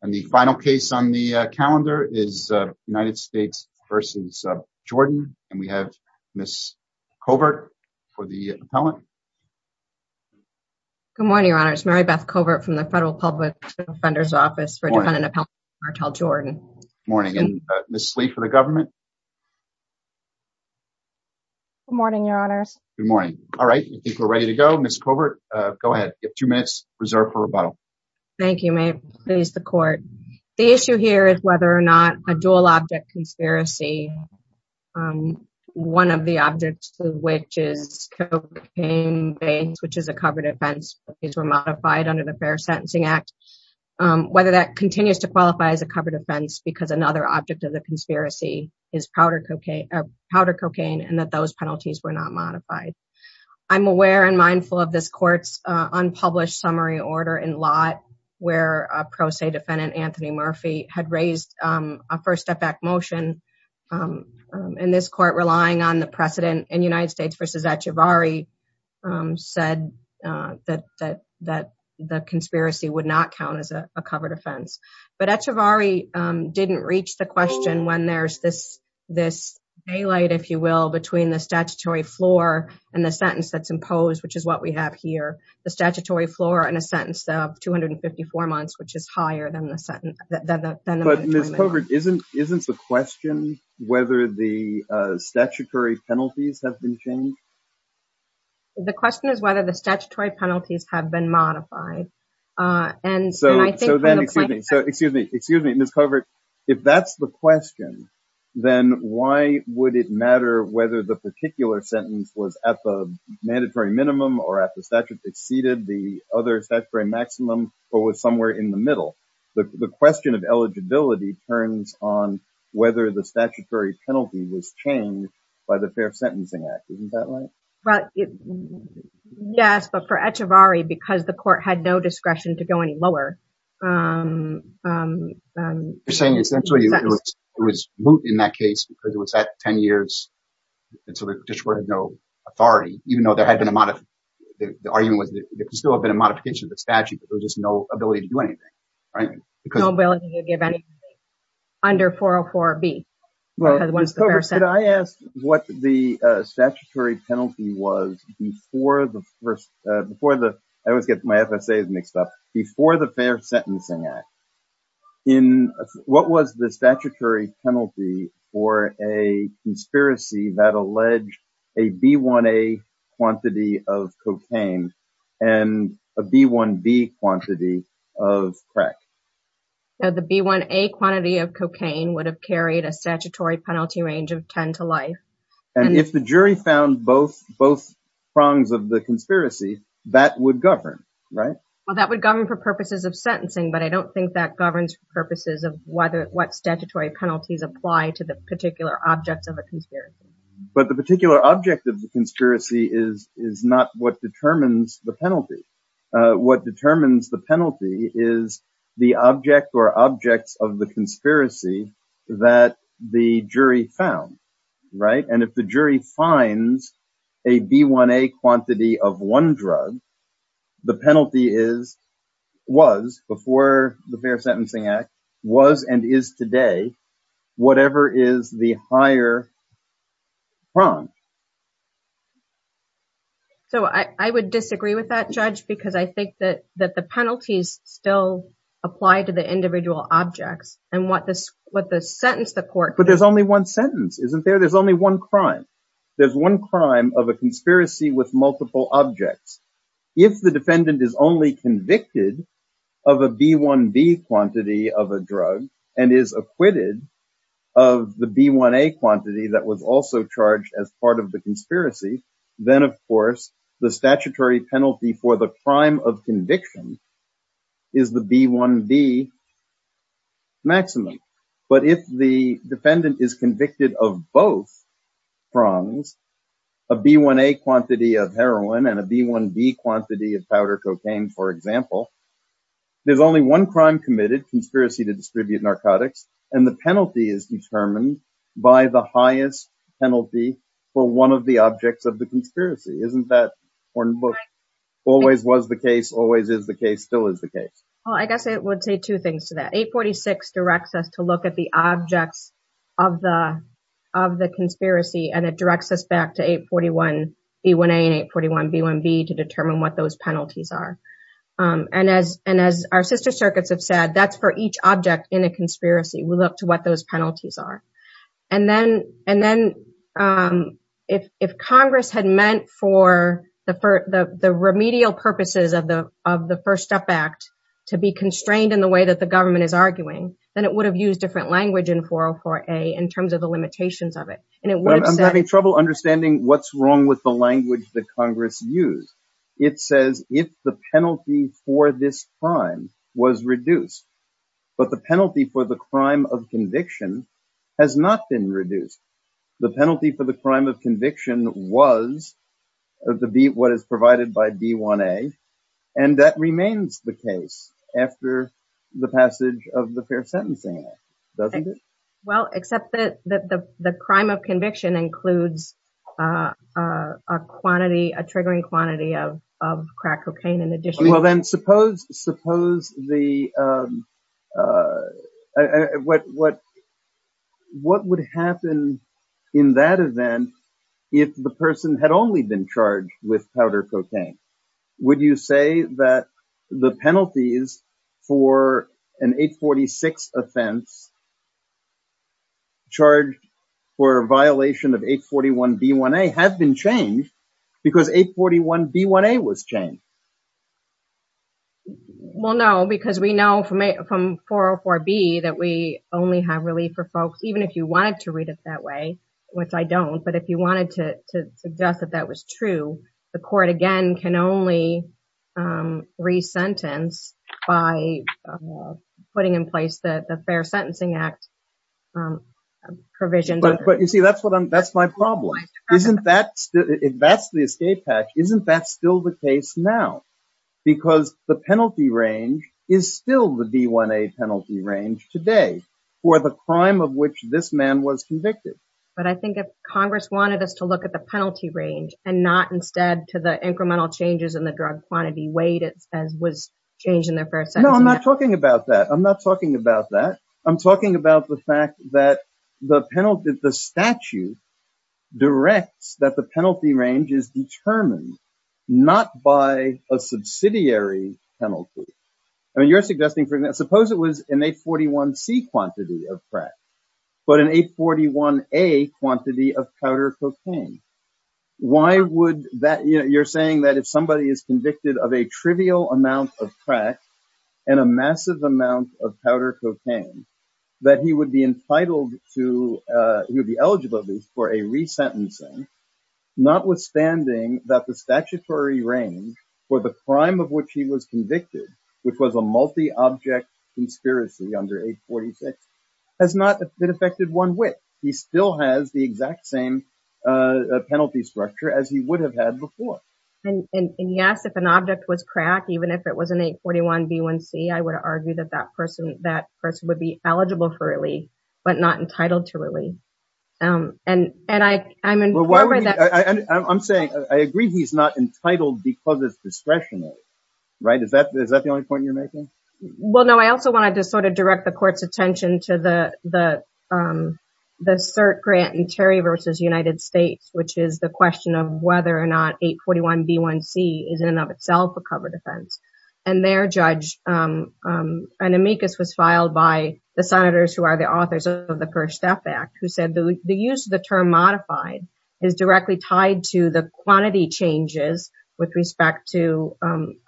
and the final case on the calendar is United States v. Jordan and we have Ms. Covert for the appellant. Good morning, Your Honors. Mary Beth Covert from the Federal Public Defender's Office for defendant appellant Martel Jordan. Good morning and Ms. Lee for the government. Good morning, Your Honors. Good morning. All right, I think we're ready to go. Ms. Covert, go ahead. You have two minutes reserved for rebuttal. Thank you. May it please the court. The issue here is whether or not a dual object conspiracy, one of the objects to which is cocaine, which is a covered offense, these were modified under the Fair Sentencing Act, whether that continues to qualify as a covered offense because another object of the conspiracy is powder cocaine and that those penalties were not modified. I'm aware and mindful of this court's unpublished summary order in Lott where a pro se defendant, Anthony Murphy, had raised a first step back motion in this court relying on the precedent in United States v. Echavarri said that the conspiracy would not count as a covered offense. But Echavarri didn't reach the question when there's this daylight, if you will, between the sentence that's imposed, which is what we have here, the statutory floor in a sentence of 254 months, which is higher than the sentence. But Ms. Covert, isn't the question whether the statutory penalties have been changed? The question is whether the statutory penalties have been modified. And so then, excuse me, Ms. Covert, if that's the question, then why would it matter whether the particular sentence was at the mandatory minimum or at the statute exceeded the other statutory maximum or was somewhere in the middle? The question of eligibility turns on whether the statutory penalty was changed by the Fair Sentencing Act. Isn't that right? Well, yes, but for Echavarri, because the court had no discretion to go any lower. You're saying essentially it was moot in that case because it was at 10 years and so the petitioner had no authority, even though there had been a modification. The argument was that there could still have been a modification of the statute, but there was just no ability to do anything, right? No ability to give anything under 404B. Well, Ms. Covert, could I ask what the statutory penalty was before the first, before the, I always get my FSAs mixed up, before the Fair Sentencing Act. What was the statutory penalty for a conspiracy that alleged a B1A quantity of cocaine and a B1B quantity of crack? The B1A quantity of cocaine would have carried a statutory penalty of 10 to life. And if the jury found both prongs of the conspiracy, that would govern, right? Well, that would govern for purposes of sentencing, but I don't think that governs for purposes of what statutory penalties apply to the particular objects of a conspiracy. But the particular object of the conspiracy is not what determines the penalty. What determines the penalty is the object or objects of the conspiracy that the jury found, right? And if the jury finds a B1A quantity of one drug, the penalty is, was, before the Fair Sentencing Act, was, and is today, whatever is the higher prong. So I would disagree with that, Judge, because I think that, that the penalties still apply to the individual objects and what this, what the sentence, the court. But there's only one sentence, isn't there? There's only one crime. There's one crime of a conspiracy with multiple objects. If the defendant is only convicted of a B1B quantity of a drug and is acquitted of the B1A quantity that was also charged as part of the conspiracy, then, of course, the statutory penalty for the crime of conviction is the B1B maximum. But if the defendant is convicted of both prongs, a B1A quantity of heroin and a B1B quantity of powder cocaine, for example, there's only one crime committed, conspiracy to distribute narcotics, and the penalty is determined by the highest penalty for one of the objects of the conspiracy. Isn't that important? Always was the case, always is the case, still is the case. Well, I guess I would say two things to that. 846 directs us to look at the objects of the conspiracy, and it directs us back to 841 B1A and 841 B1B to determine what those penalties are. And as our sister circuits have said, that's for each object in a conspiracy. We look to what those penalties are. And then if Congress had meant for the remedial purposes of the First Step Act to be constrained in the way that the government is arguing, then it would have used different language in 404A in terms of the limitations of it. I'm having trouble understanding what's wrong with the language that Congress used. It says if the penalty for this crime was reduced, but the not been reduced. The penalty for the crime of conviction was what is provided by B1A, and that remains the case after the passage of the Fair Sentencing Act, doesn't it? Well, except that the crime of conviction includes a quantity, a triggering quantity of crack cocaine in addition. Well, then suppose what would happen in that event if the person had only been charged with powder cocaine? Would you say that the penalties for an 846 offense charged for a violation of 841 B1A have been changed because 841 B1A was changed? Well, no, because we know from 404B that we only have relief for folks, even if you wanted to read it that way, which I don't. But if you wanted to suggest that that was true, the court again can only re-sentence by putting in place the Fair Sentencing Act provision. But you see, that's my problem. That's the escape patch. Isn't that still the case now? Because the penalty range is still the B1A penalty range today for the crime of which this man was convicted. But I think if Congress wanted us to look at the penalty range and not instead to the incremental changes in the drug quantity weight as was changed in their first sentence. No, I'm not talking about that. I'm not talking about that. I'm talking about the fact that the penalty, the statute directs that the penalty range is determined not by a subsidiary penalty. I mean, you're suggesting, for example, suppose it was an 841C quantity of crack, but an 841A quantity of powder cocaine. Why would that, you're saying that if somebody is convicted of a trivial amount of crack and a massive amount of powder cocaine, that he would be entitled to, he would be eligible for a re-sentencing, notwithstanding that the statutory range for the crime of which he was convicted, which was a multi-object conspiracy under 846, has not been affected one whit. He still has the exact same penalty structure as he would have had before. And yes, if an object was crack, even if it was an 841B1C, I would argue that that person, that person would be eligible for relief, but not entitled to relief. And, and I, I'm, I'm saying, I agree he's not entitled because it's discretionary, right? Is that, is that the only point you're making? Well, no, I also wanted to sort of direct the court's attention to the, the, the cert grant and Terry versus United States, which is the question of whether or not 841B1C is in and of itself a covered offense. And their judge, Anamikis was filed by the senators who are the authors of the first step act, who said the use of the term modified is directly tied to the quantity changes with respect to the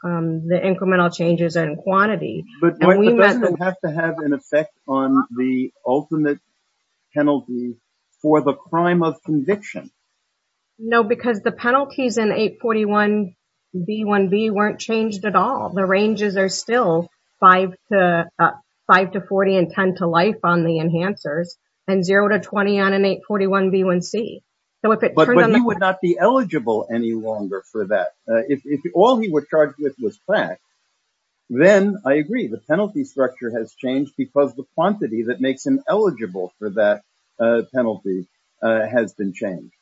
incremental changes in quantity. But doesn't it have to have an effect on the ultimate penalty for the crime of conviction? No, because the penalties in 841B1B weren't changed at all. The ranges are still five to five to 40 and 10 to life on the enhancers and zero to 20 on an 841B1C. So if it turned on the- But he would not be eligible any longer for that. If all he was charged with was crack, then I agree the penalty structure has changed because the quantity that makes him eligible for that penalty has been changed.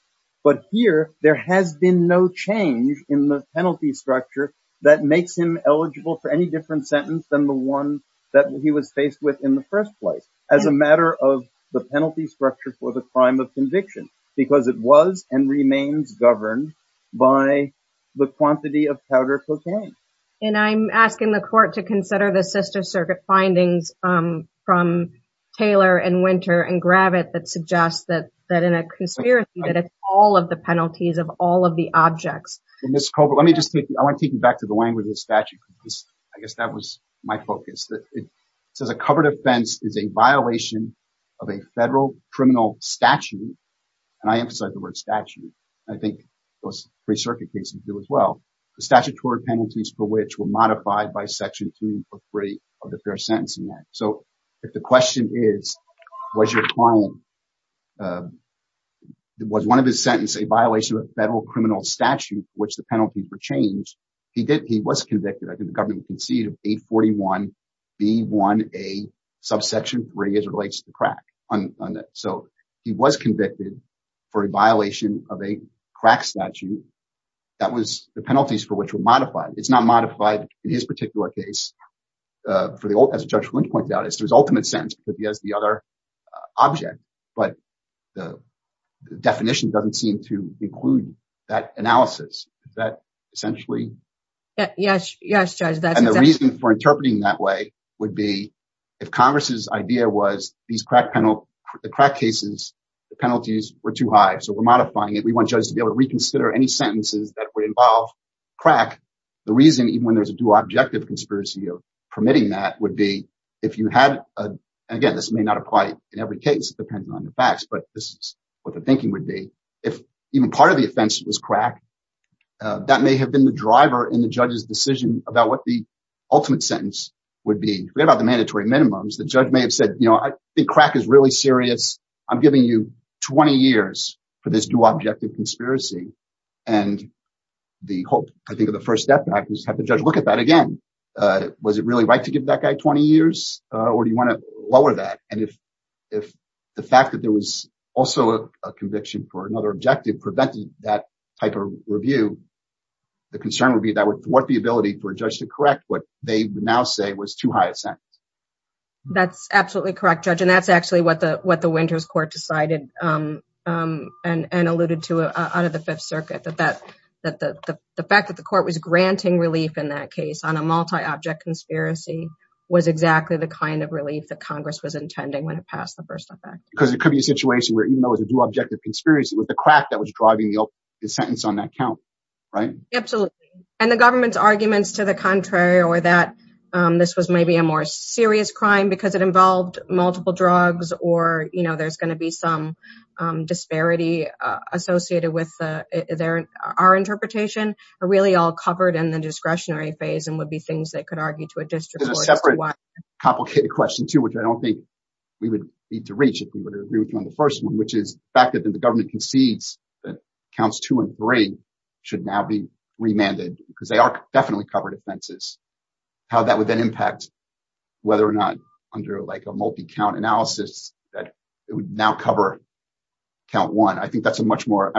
But here, there has been no change in the penalty structure that makes him eligible for any different sentence than the one that he was faced with in the first place as a matter of the penalty structure for the crime of conviction, because it was and remains governed by the quantity of powder cocaine. And I'm asking the court to consider the sister circuit findings from Taylor and Winter and Gravitt that suggests that in a conspiracy that it's all of the penalties of all of the objects. Ms. Colbert, let me just take you, I want to take you back to the language of the statute because I guess that was my focus. It says a covered offense is a violation of a federal criminal statute, and I emphasize the word statute. I think most free circuit cases do as well. The statutory penalties for which were modified by Section 3 of the Fair Sentencing Act. So if the question is, was your client, was one of his sentences a violation of a federal criminal statute for which the penalty for change, he did, he was convicted, I think the government conceded of 841 B1A subsection 3 as it relates to crack. So he was convicted for a violation of a crack statute that was the penalties for which were modified. It's not modified in his particular case. For the old, as Judge Flint pointed out, it's his ultimate sentence, but he has the other object, but the definition doesn't seem to include that analysis that essentially. Yes, yes, Judge. And the reason for interpreting that way would be if Congress's idea was these crack penalties, the crack cases, the penalties were too high. So we're modifying it. We want to be able to reconsider any sentences that would involve crack. The reason, even when there's a dual objective conspiracy of permitting that would be if you had, and again, this may not apply in every case, depending on the facts, but this is what the thinking would be. If even part of the offense was crack, that may have been the driver in the judge's decision about what the ultimate sentence would be. Forget about the mandatory minimums. The judge may have said, you know, I think crack is really serious. I'm giving you 20 years for this dual objective conspiracy. And the hope, I think of the first step is have the judge look at that again. Was it really right to give that guy 20 years? Or do you want to lower that? And if the fact that there was also a conviction for another objective prevented that type of review, the concern would be that what the ability for a judge to correct what they now say was too high to be true. That's absolutely correct, Judge. And that's actually what the Winters Court decided and alluded to out of the Fifth Circuit, that the fact that the court was granting relief in that case on a multi-object conspiracy was exactly the kind of relief that Congress was intending when it passed the first effect. Because it could be a situation where even though it was a dual objective conspiracy, it was the crack that was driving the sentence on that count, right? Absolutely. And the government's arguments to the contrary, or that this was maybe a more serious crime because it involved multiple drugs, or there's going to be some disparity associated with our interpretation, are really all covered in the discretionary phase and would be things they could argue to a district court as to why- There's a separate complicated question too, which I don't think we would need to reach if we were to agree with you on the first one, which is the fact that the government concedes that counts two and three should now be remanded because they are definitely covered offenses. How that would then impact whether or not under like a multi-count analysis that it would now cover count one. I think that's a much more,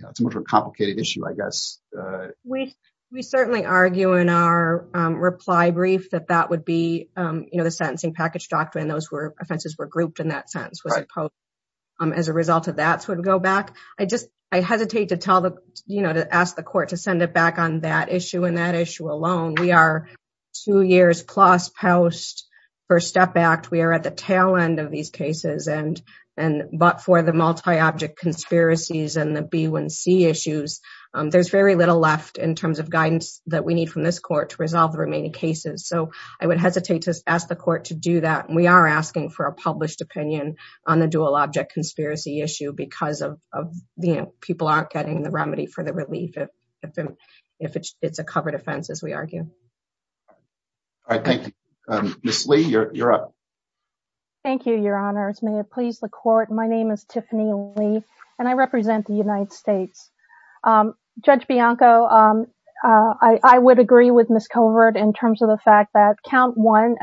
it's a much more complicated issue, I guess. We certainly argue in our reply brief that that would be the sentencing package doctrine. Those were offenses were grouped in that sentence, was opposed as a result of that would go back. I just, I hesitate to tell the, to ask the court to send it back on that issue and that issue alone. We are two years plus post First Step Act. We are at the tail end of these cases and, but for the multi-object conspiracies and the B1C issues, there's very little left in terms of guidance that we need from this court to resolve the remaining cases. I would hesitate to ask the court to do that. We are asking for a published opinion on the dual object conspiracy issue because of the people aren't getting the remedy for the relief if it's a covered offense, as we argue. All right, thank you. Ms. Lee, you're up. Thank you, your honors. May it please the court. My name is Tiffany Lee and I represent the United States. Judge Bianco, I would agree with Ms. Covert in terms of the fact that count one,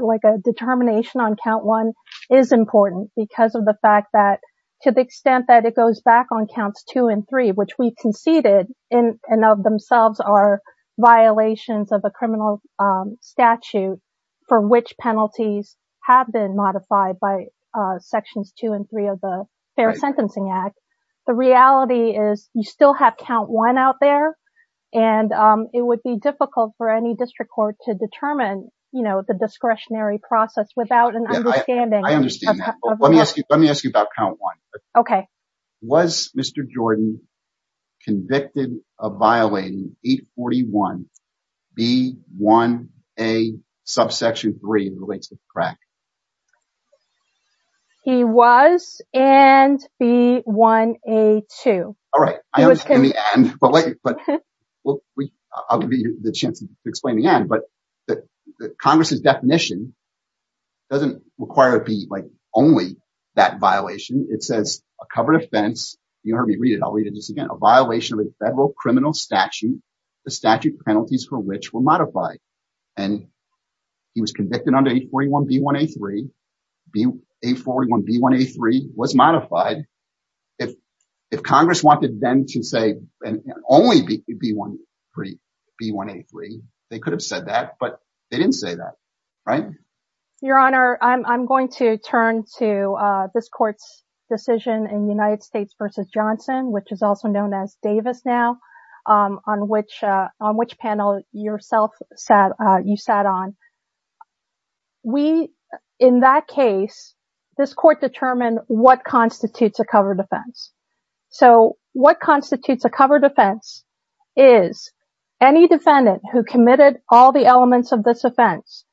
like a determination on count one is important because of the fact that to the extent that it conceded in and of themselves are violations of a criminal statute for which penalties have been modified by sections two and three of the Fair Sentencing Act. The reality is you still have count one out there and it would be difficult for any district court to determine, you know, the discretionary process without an understanding. I understand that. Let me ask you, let me ask you about count one. Okay. Was Mr. Jordan convicted of violating 841 B1A subsection three in relation to crack? He was and B1A2. All right, I understand the end, but I'll give you the chance to explain the end, but the Congress's definition doesn't require it be like only that violation. It says a covered offense. You heard me read it. I'll read it just again. A violation of a federal criminal statute, the statute penalties for which were modified. And he was convicted under 841 B1A3. B841 B1A3 was modified. If Congress wanted them to say only B1A3, they could have said that, but they didn't say that, right? Your Honor, I'm going to turn to this court's decision in the United States versus Johnson, which is also known as Davis now, on which panel yourself sat, you sat on. We, in that case, this court determined what constitutes a covered offense. So what constitutes a covered offense is any defendant who committed all the elements of this offense.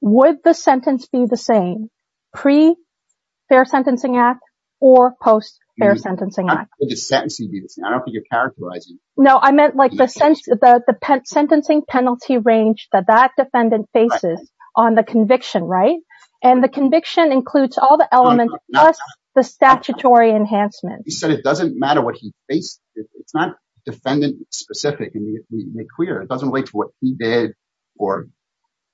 Would the sentence be the same pre-fair sentencing act or post-fair sentencing act? Would the sentencing be the same? I don't think you're characterizing. No, I meant like the sentencing penalty range that that defendant faces on the conviction, right? And the conviction includes all the elements plus the statutory enhancement. You said it doesn't matter what he faced. It's not defendant specific and clear. It doesn't relate to what he did or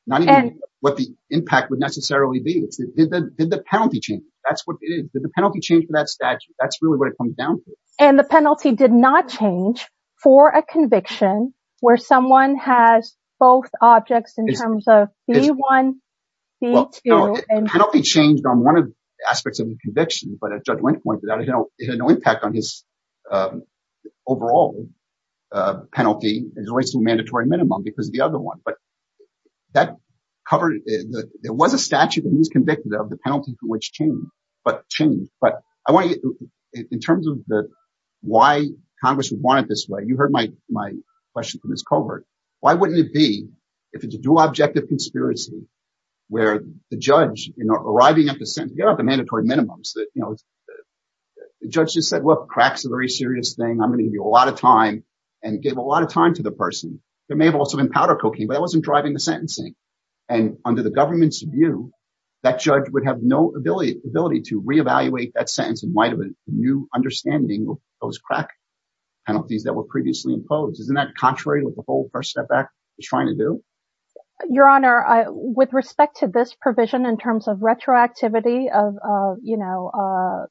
not even what the impact would necessarily be. Did the penalty change? Did the penalty change for that statute? That's really what it comes down to. And the penalty did not change for a conviction where someone has both objects in terms of B1, B2. The penalty changed on one of the aspects of the conviction, but as Judge Wendt pointed out, it had no impact on his overall penalty as it relates to a mandatory minimum because of the other one. But that covered, there was a statute that he was convicted of, the penalty for which changed, but I want to get in terms of why Congress would want it this way. You heard my question from Ms. Colbert. Why wouldn't it be if it's a dual objective conspiracy where the judge, you know, arriving at the mandatory minimums that, you know, the judge just said, look, crack's a very serious thing. I'm going to give you a lot of time and gave a lot of time to the person. There may have also been powder cocaine, but it wasn't driving the sentencing. And under the government's view, that judge would have no ability to reevaluate that sentence in light of a new understanding of those crack penalties that were previously imposed. Isn't that contrary to what the whole First Step Act is trying to do? Your Honor, with respect to this provision in terms of retroactivity of, you know,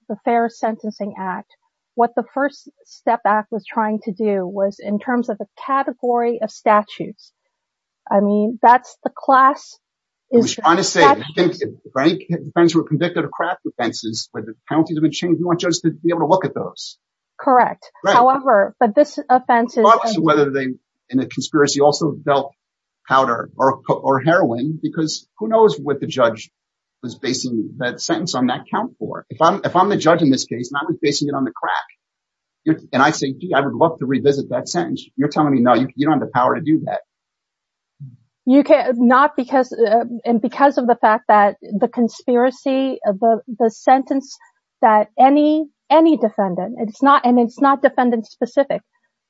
the Fair Sentencing Act, what the First Step Act was trying to do was in terms of the category of statutes. I mean, that's the class. I was trying to say, if any defendants were convicted of crack offenses where the penalties have been changed, you want judges to be able to look at those. Correct. However, but this offense is. Regardless of whether they, in a conspiracy, also felt powder or heroin, because who knows what the judge was basing that sentence on that count for. If I'm the judge in this case, and I'm basing it on the crack, and I say, gee, I would love to revisit that sentence. You're telling me, no, you don't have the power to do that. Not because, and because of the fact that the conspiracy, the sentence that any defendant, it's not, and it's not defendant specific.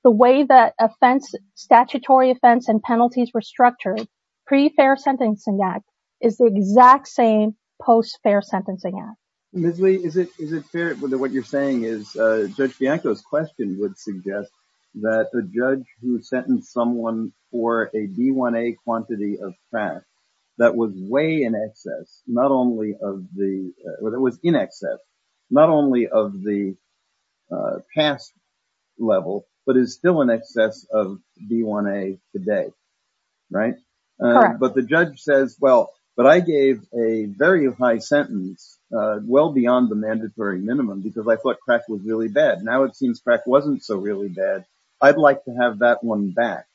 The way that offense, statutory offense and penalties were structured pre-Fair Sentencing Act is the exact same post-Fair Sentencing Act. Ms. Lee, is it fair that what you're saying is Judge Bianco's question would suggest that a judge who sentenced someone for a D1A quantity of crack that was way in excess, not only of the, or that was in excess, not only of the past level, but is still in excess of D1A today, right? Correct. But the judge says, well, but I gave a very high sentence, well beyond the mandatory minimum, because I thought crack was really bad. Now it seems crack wasn't so really bad. I'd like to have that one back.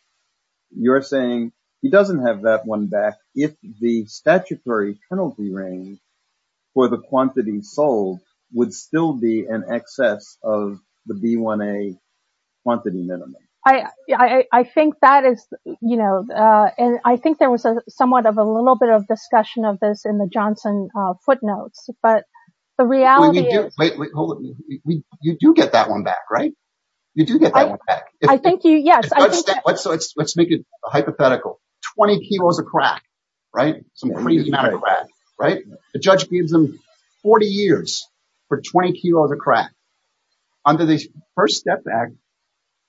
You're saying he doesn't have that one back if the statutory penalty range for the quantity sold would still be in excess of the D1A quantity minimum. I think that is, you know, and I think there was a somewhat of a little bit of discussion of this in the Johnson footnotes, but the reality is- Wait, hold on. You do get that one back, right? You do get that one back. I think you, yes. Let's make it hypothetical. 20 kilos of crack, right? The judge gives them 40 years for 20 kilos of crack. Under the first step back,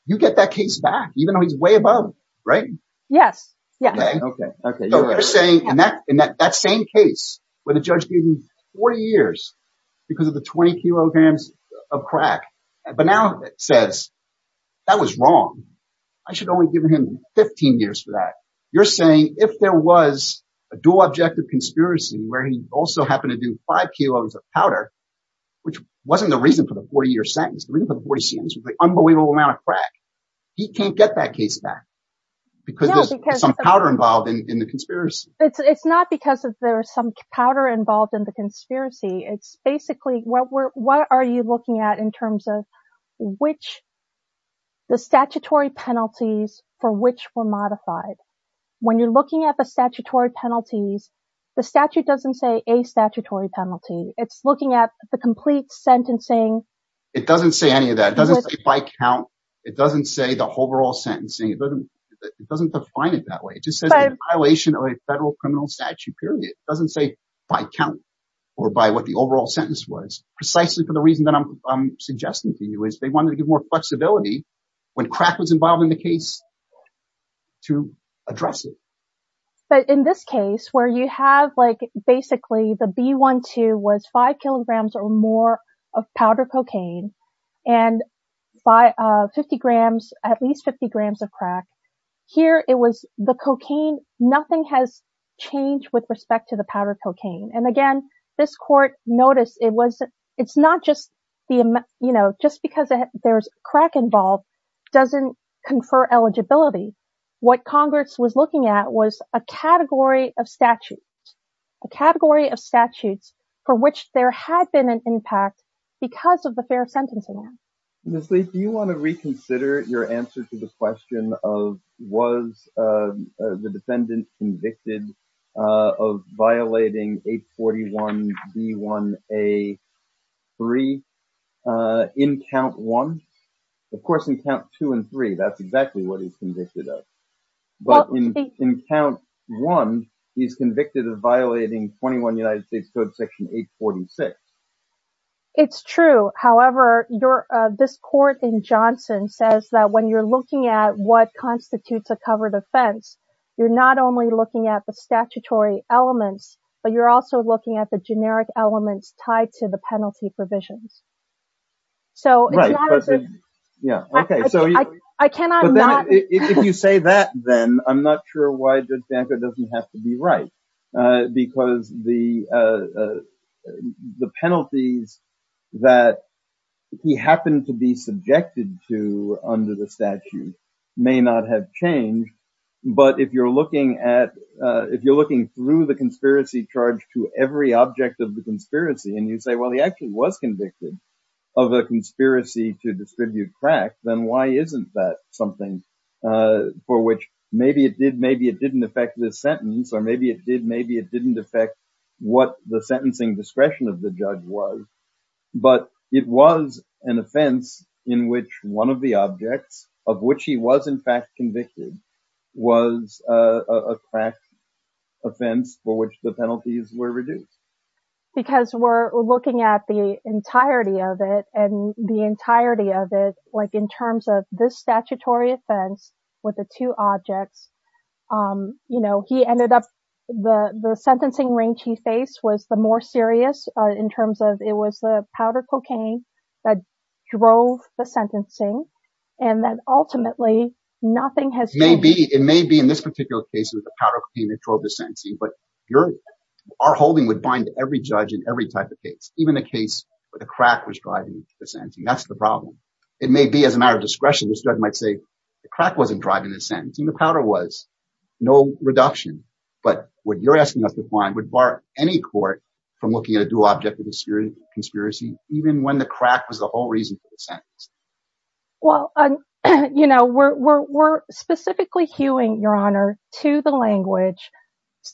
you get that case back, even though he's way above, right? Yes. Okay. Okay. You're saying in that same case where the judge gave him 40 years because of the 20 kilograms of crack, but now it says that was wrong. I should have only given him 15 years for that. You're saying if there was a dual objective conspiracy where he also happened to do five kilos of powder, which wasn't the reason for the 40 year sentence, the reason for the 40 years sentence was the unbelievable amount of crack. He can't get that case back because there's some powder involved in the conspiracy. It's not because of there's some powder involved in the conspiracy. It's which the statutory penalties for which were modified. When you're looking at the statutory penalties, the statute doesn't say a statutory penalty. It's looking at the complete sentencing. It doesn't say any of that. It doesn't say by count. It doesn't say the overall sentencing. It doesn't define it that way. It just says violation of a federal criminal statute period. It doesn't say by count or by what the overall sentence was precisely for the reason that I'm suggesting to you is they wanted to give more flexibility when crack was involved in the case to address it. But in this case where you have like basically the B12 was five kilograms or more of powder cocaine and by 50 grams, at least 50 grams of crack here, it was the cocaine. Nothing has changed with respect to the powder cocaine. And again, this court noticed it was it's not just the, you know, just because there's crack involved doesn't confer eligibility. What Congress was looking at was a category of statutes, a category of statutes for which there had been an impact because of the fair sentencing. Miss Lee, do you want to reconsider your answer to the question of was the defendant convicted of violating 841B1A3 in count one? Of course, in count two and three, that's exactly what he's convicted of. But in count one, he's convicted of violating 21 United States Code Section 846. It's true. However, this court in Johnson says that when you're looking at what constitutes a covered offense, you're not only looking at the statutory elements, but you're also looking at the generic elements tied to the penalty provisions. So, yeah, okay. So, I cannot. If you say that, then I'm not sure why Judge Danko doesn't have to be right. Because the But if you're looking through the conspiracy charge to every object of the conspiracy, and you say, well, he actually was convicted of a conspiracy to distribute crack, then why isn't that something for which maybe it did, maybe it didn't affect this sentence, or maybe it did, maybe it didn't affect what the sentencing discretion of the judge was. But it was an object of which he was, in fact, convicted, was a crack offense for which the penalties were reduced. Because we're looking at the entirety of it, and the entirety of it, like in terms of this statutory offense, with the two objects, you know, he ended up, the sentencing range he faced was the more serious, in terms of it was the powder cocaine that drove the sentencing, and that ultimately, nothing has changed. It may be in this particular case with the powder cocaine that drove the sentencing, but our holding would bind every judge in every type of case, even a case where the crack was driving the sentencing, that's the problem. It may be as a matter of discretion, the judge might say, the crack wasn't driving the sentencing, the powder was, no reduction. But what you're asking us to find, would bar any court from looking at a dual object with a serious conspiracy, even when the crack was the whole reason for the sentence? Well, you know, we're specifically hewing, your honor, to the language,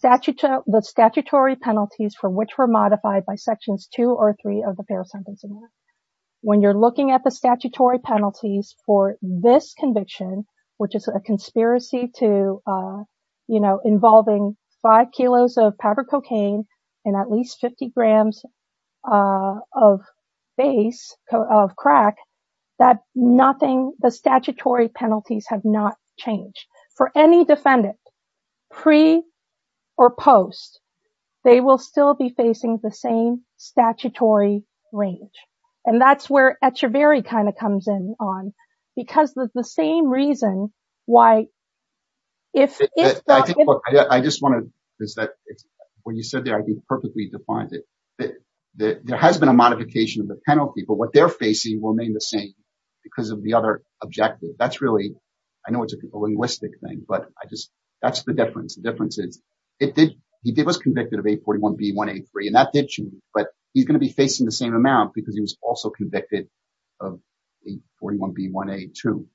the statutory penalties for which were modified by sections two or three of the Fair Sentencing Act. When you're looking at the statutory penalties for this conviction, which is a conspiracy to, you know, involving five kilos of powder cocaine, and at least 50 grams of base of crack, that nothing, the statutory penalties have not changed for any defendant, pre or post, they will still be facing the same statutory range. And that's where at your very kind of comes in on, because the same reason why, if I just want to, is that when you said that, I think perfectly defined it, there has been a modification of the penalty, but what they're facing will remain the same, because of the other objective. That's really, I know, it's a linguistic thing, but I just, that's the difference. The difference is, it did, he did was convicted of 841 B1A3. And that did change, but he's going to be facing the same amount because he was also convicted of 841 B1A2.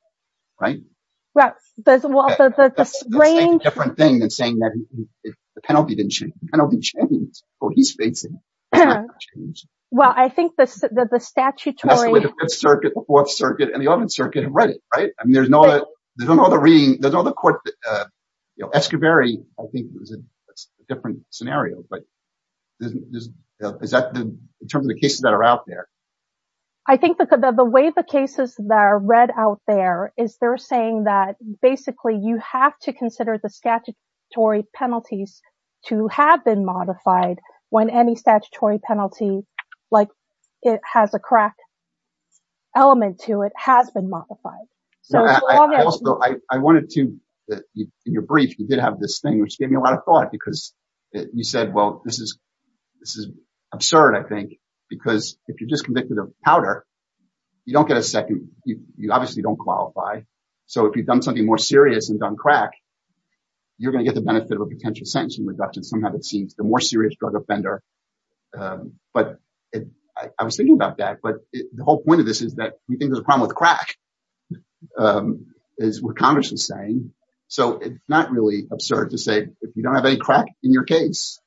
Right. Well, that's a different thing than saying that the penalty didn't change, the penalty changed. Well, he's facing it. Well, I think that the statutory circuit, the Fourth Circuit and the Eleventh Circuit have read it, right? I mean, there's no, there's no other reading, there's no other court, you know, Escobar. I think it was a different scenario, but is that in terms of the cases that are out there? I think that the way the cases that are read out there is they're saying that basically, you have to consider the statutory penalties to have been modified when any statutory penalty, like it has a crack element to it, has been modified. I wanted to, in your brief, you did have this thing, which gave me a lot of thought, because you said, well, this is absurd, I think, because if you're just convicted of powder, you don't get a second, you obviously don't qualify. So if you've done something more serious and done crack, you're going to get the benefit of a potential sentencing reduction, somehow it seems, the more serious drug offender. But I was thinking about that. But the whole point of this is that we think there's a problem with crack, is what Congress is saying. So it's not really absurd to say, if you don't have any it's,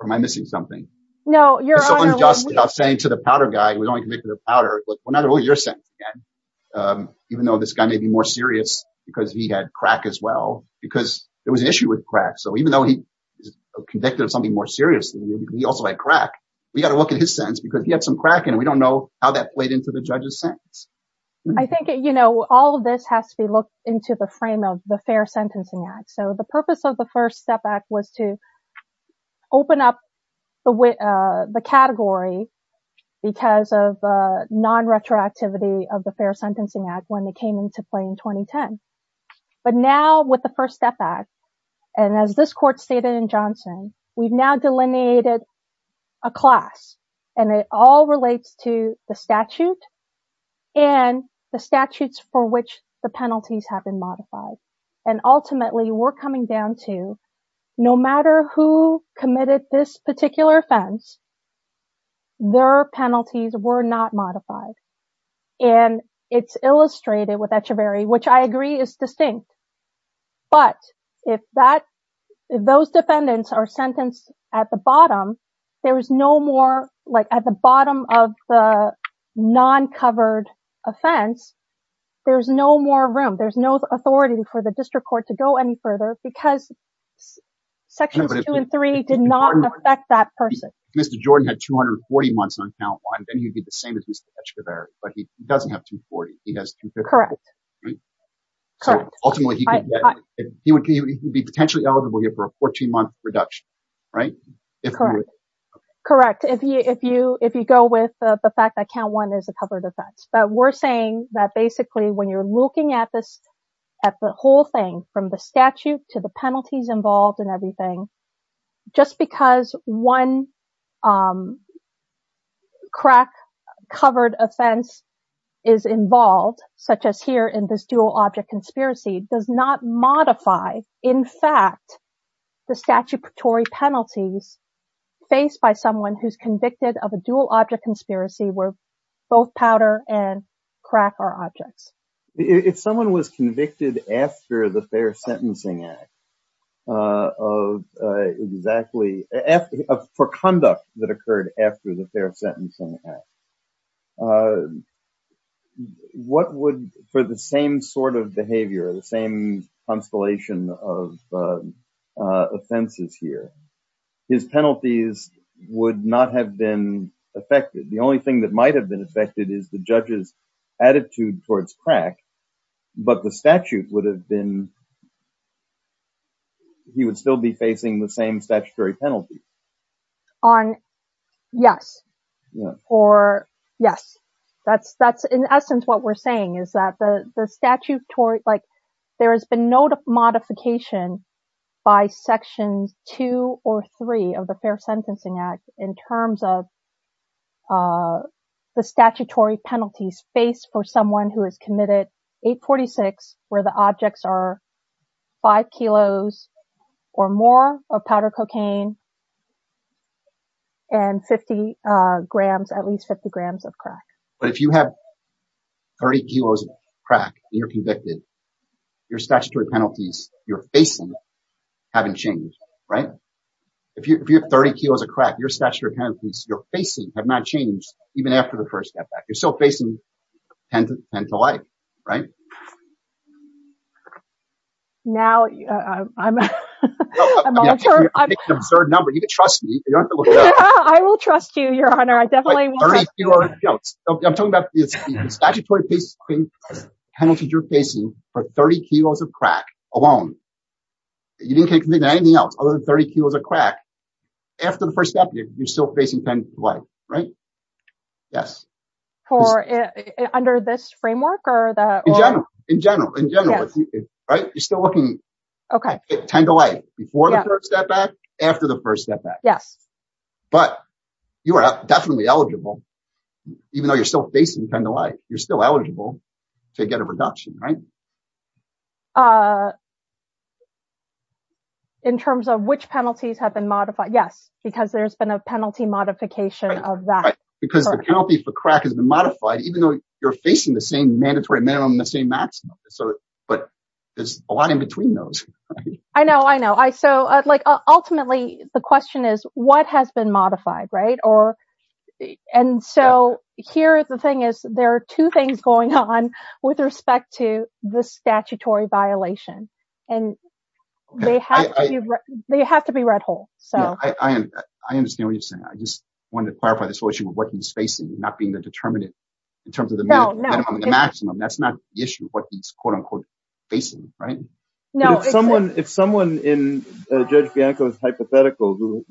or am I missing something? No, you're just saying to the powder guy, we don't get to the powder, but we're not all your sense. Even though this guy may be more serious, because he had crack as well, because there was an issue with crack. So even though he convicted of something more seriously, he also had crack, we got to look at his sense because he had some crack and we don't know how that played into the judge's sentence. I think, you know, all of this has to be looked into the frame of the Fair Sentencing Act. So the purpose of the First Step Act was to open up the category because of non retroactivity of the Fair Sentencing Act when they came into play in 2010. But now with the First Step Act, and as this court stated in Johnson, we've now delineated a class, and it all relates to the statute and the statutes for which the penalties have been modified. And ultimately, we're coming down to no matter who committed this particular offense, their penalties were not modified. And it's illustrated with Echeverry, which I agree is distinct. But if that those defendants are sentenced at the bottom, there is no more like at the bottom of the non covered offense. There's no more room, there's no authority for the district court to go any further because sections two and three did not affect that person. Mr. Jordan had 240 months on count one, then he'd be the same as Mr. Echeverry, but he doesn't have 240. He has 250. Correct. Correct. Ultimately, he would be potentially eligible here for a 14 month reduction, right? Correct. If you if you if you go with the fact that count one is a covered offense, but we're saying that basically, when you're looking at this, at the whole thing, from the statute to the penalties involved and everything, just because one crack covered offense is involved, such as here in this dual object conspiracy does not modify, in fact, the statutory penalties faced by someone who's convicted of a dual object conspiracy, where both powder and crack are objects. If someone was convicted after the Fair Sentencing Act, for conduct that occurred after the Fair Sentencing Act, what would for the same sort of behavior, the same constellation of offenses here, his penalties would not have been affected? The only thing that might have been affected is the judge's attitude towards crack. But the statute would have been, he would still be facing the same statutory penalty. On? Yes. Or, yes. That's that's, in essence, what we're saying is that the statute toward like, there has been no modification by sections two or three of the Fair Sentencing Act in terms of the statutory penalties faced for someone who has committed 846, where the objects are five kilos or more of powder cocaine and 50 grams, at least 50 grams of crack. But if you have 30 kilos of crack, you're convicted, your statutory penalties you're facing haven't changed, right? If you have 30 kilos of crack, your statutory penalties you're facing have not changed even after the first step back, you're still facing 10 to 10 to life, right? Now, I'm sure number you can trust me. I will trust you, Your Honor. I definitely will. I'm talking about the statutory penalty you're facing for 30 kilos of crack alone. You didn't get anything else other than 30 kilos of crack. After the first step, you're still facing 10 to life, right? Yes. For under this framework or the? In general, in general, in general, right? You're still looking at 10 to life before the first step back. Yes. But you are definitely eligible, even though you're still facing 10 to life, you're still eligible to get a reduction, right? In terms of which penalties have been modified? Yes. Because there's been a penalty modification of that. Because the penalty for crack has been modified, even though you're facing the same mandatory minimum, the same maximum. So, but there's a lot in between those. I know, I know. So, like, ultimately, the question is, what has been modified, right? Or, and so here, the thing is, there are two things going on with respect to the statutory violation. And they have to be, they have to be read whole. So, I understand what you're saying. I just wanted to clarify this issue of what he's facing, not being the determinant in terms of the minimum and the maximum. That's not the issue, what he's, quote, unquote, facing, right? No. If someone, if someone in Judge Bianco's hypothetical who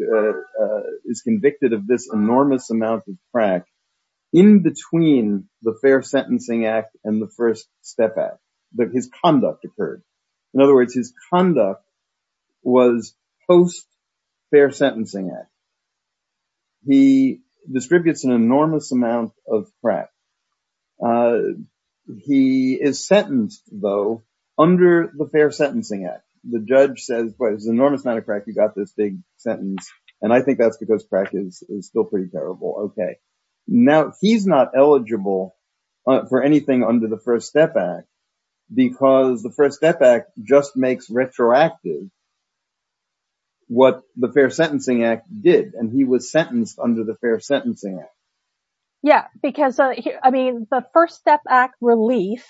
is convicted of this enormous amount of crack, in between the Fair Sentencing Act and the First Step Act, that his conduct occurred. In other words, his conduct was post-Fair Sentencing Act. He distributes an enormous amount of crack. He is sentenced, though, under the Fair Sentencing Act. The judge says, well, it's enormous amount of crack, you got this big sentence. And I think that's because crack is still pretty terrible. Okay. Now, he's not eligible for anything under the First Step Act, because the First Step Act just makes retroactive what the Fair Sentencing Act did, and he was sentenced under the Fair Sentencing Act. Yeah, because, I mean, the First Step Act relief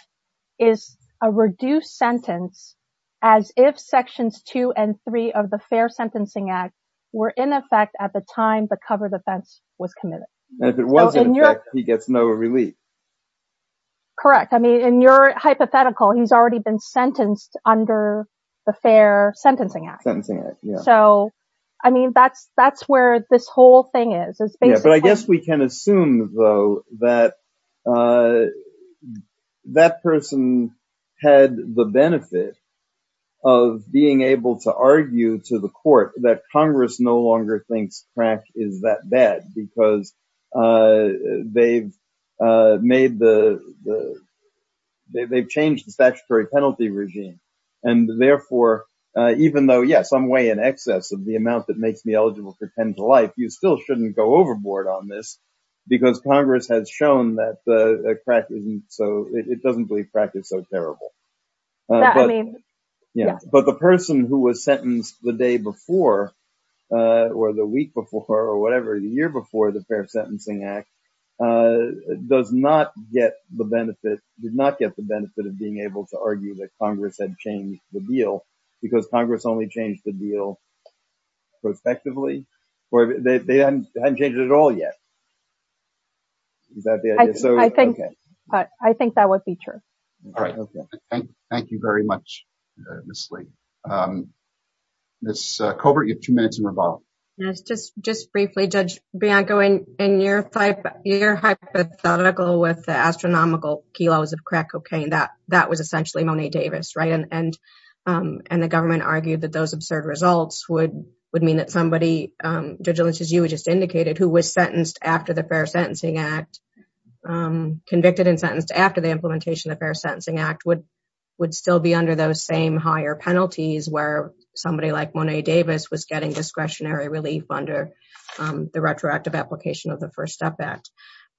is a reduced sentence, as if sections two and three of the Fair Sentencing Act were in effect at the time the cover defense was committed. And if it was in effect, he gets no relief. Correct. I mean, in your hypothetical, he's already been sentenced under the Fair Sentencing Act. Sentencing Act, yeah. So, I mean, that's where this whole thing is. Yeah, but I guess we can assume, though, that that person had the benefit of being able to argue to the court that Congress no longer thinks crack is that bad, because they've changed the statutory penalty regime. And therefore, even though, yes, I'm way in excess of the amount that makes me eligible for 10 to life, you still shouldn't go overboard on this, because Congress has shown that it doesn't practice so terribly. But the person who was sentenced the day before, or the week before, or whatever, the year before the Fair Sentencing Act, did not get the benefit of being able to argue that Congress had changed the deal, because Congress only changed the deal prospectively, or they hadn't changed it at all yet. Is that the idea? I think that would be true. Thank you very much, Ms. Lee. Ms. Colbert, you have two minutes and revolve. Yes, just briefly, Judge Bianco, in your hypothetical with the astronomical kilos of crack cocaine, that was essentially Monet Davis, right? And the government argued that those judges, as you just indicated, who was sentenced after the Fair Sentencing Act, convicted and sentenced after the implementation of the Fair Sentencing Act would still be under those same higher penalties where somebody like Monet Davis was getting discretionary relief under the retroactive application of the First Step Act.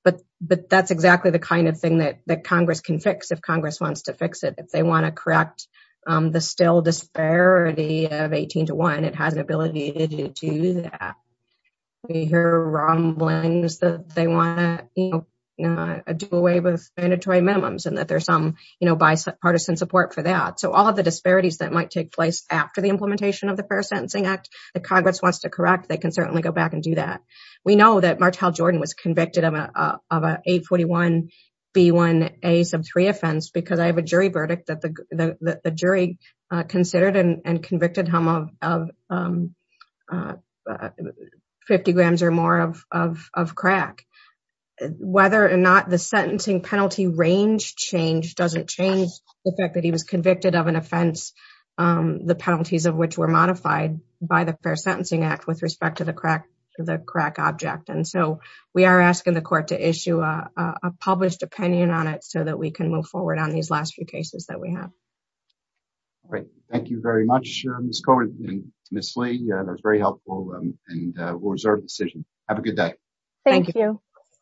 But that's exactly the kind of thing that Congress can fix if Congress wants to fix it. If they want to correct the still disparity of 18 to 41, it has an ability to do that. We hear rumblings that they want to do away with mandatory minimums and that there's some bipartisan support for that. So all of the disparities that might take place after the implementation of the Fair Sentencing Act that Congress wants to correct, they can certainly go back and do that. We know that Martel Jordan was convicted of an 841B1A offense because I have a jury verdict that the jury considered and convicted him of 50 grams or more of crack. Whether or not the sentencing penalty range change doesn't change the fact that he was convicted of an offense, the penalties of which were modified by the Fair Sentencing Act with respect to the crack object. And so we are asking the court to issue a published opinion on it so that we can move forward on these last few cases that we have. All right. Thank you very much, Ms. Cohen and Ms. Lee. That was very helpful and we'll reserve the decision. Have a good day. Thank you.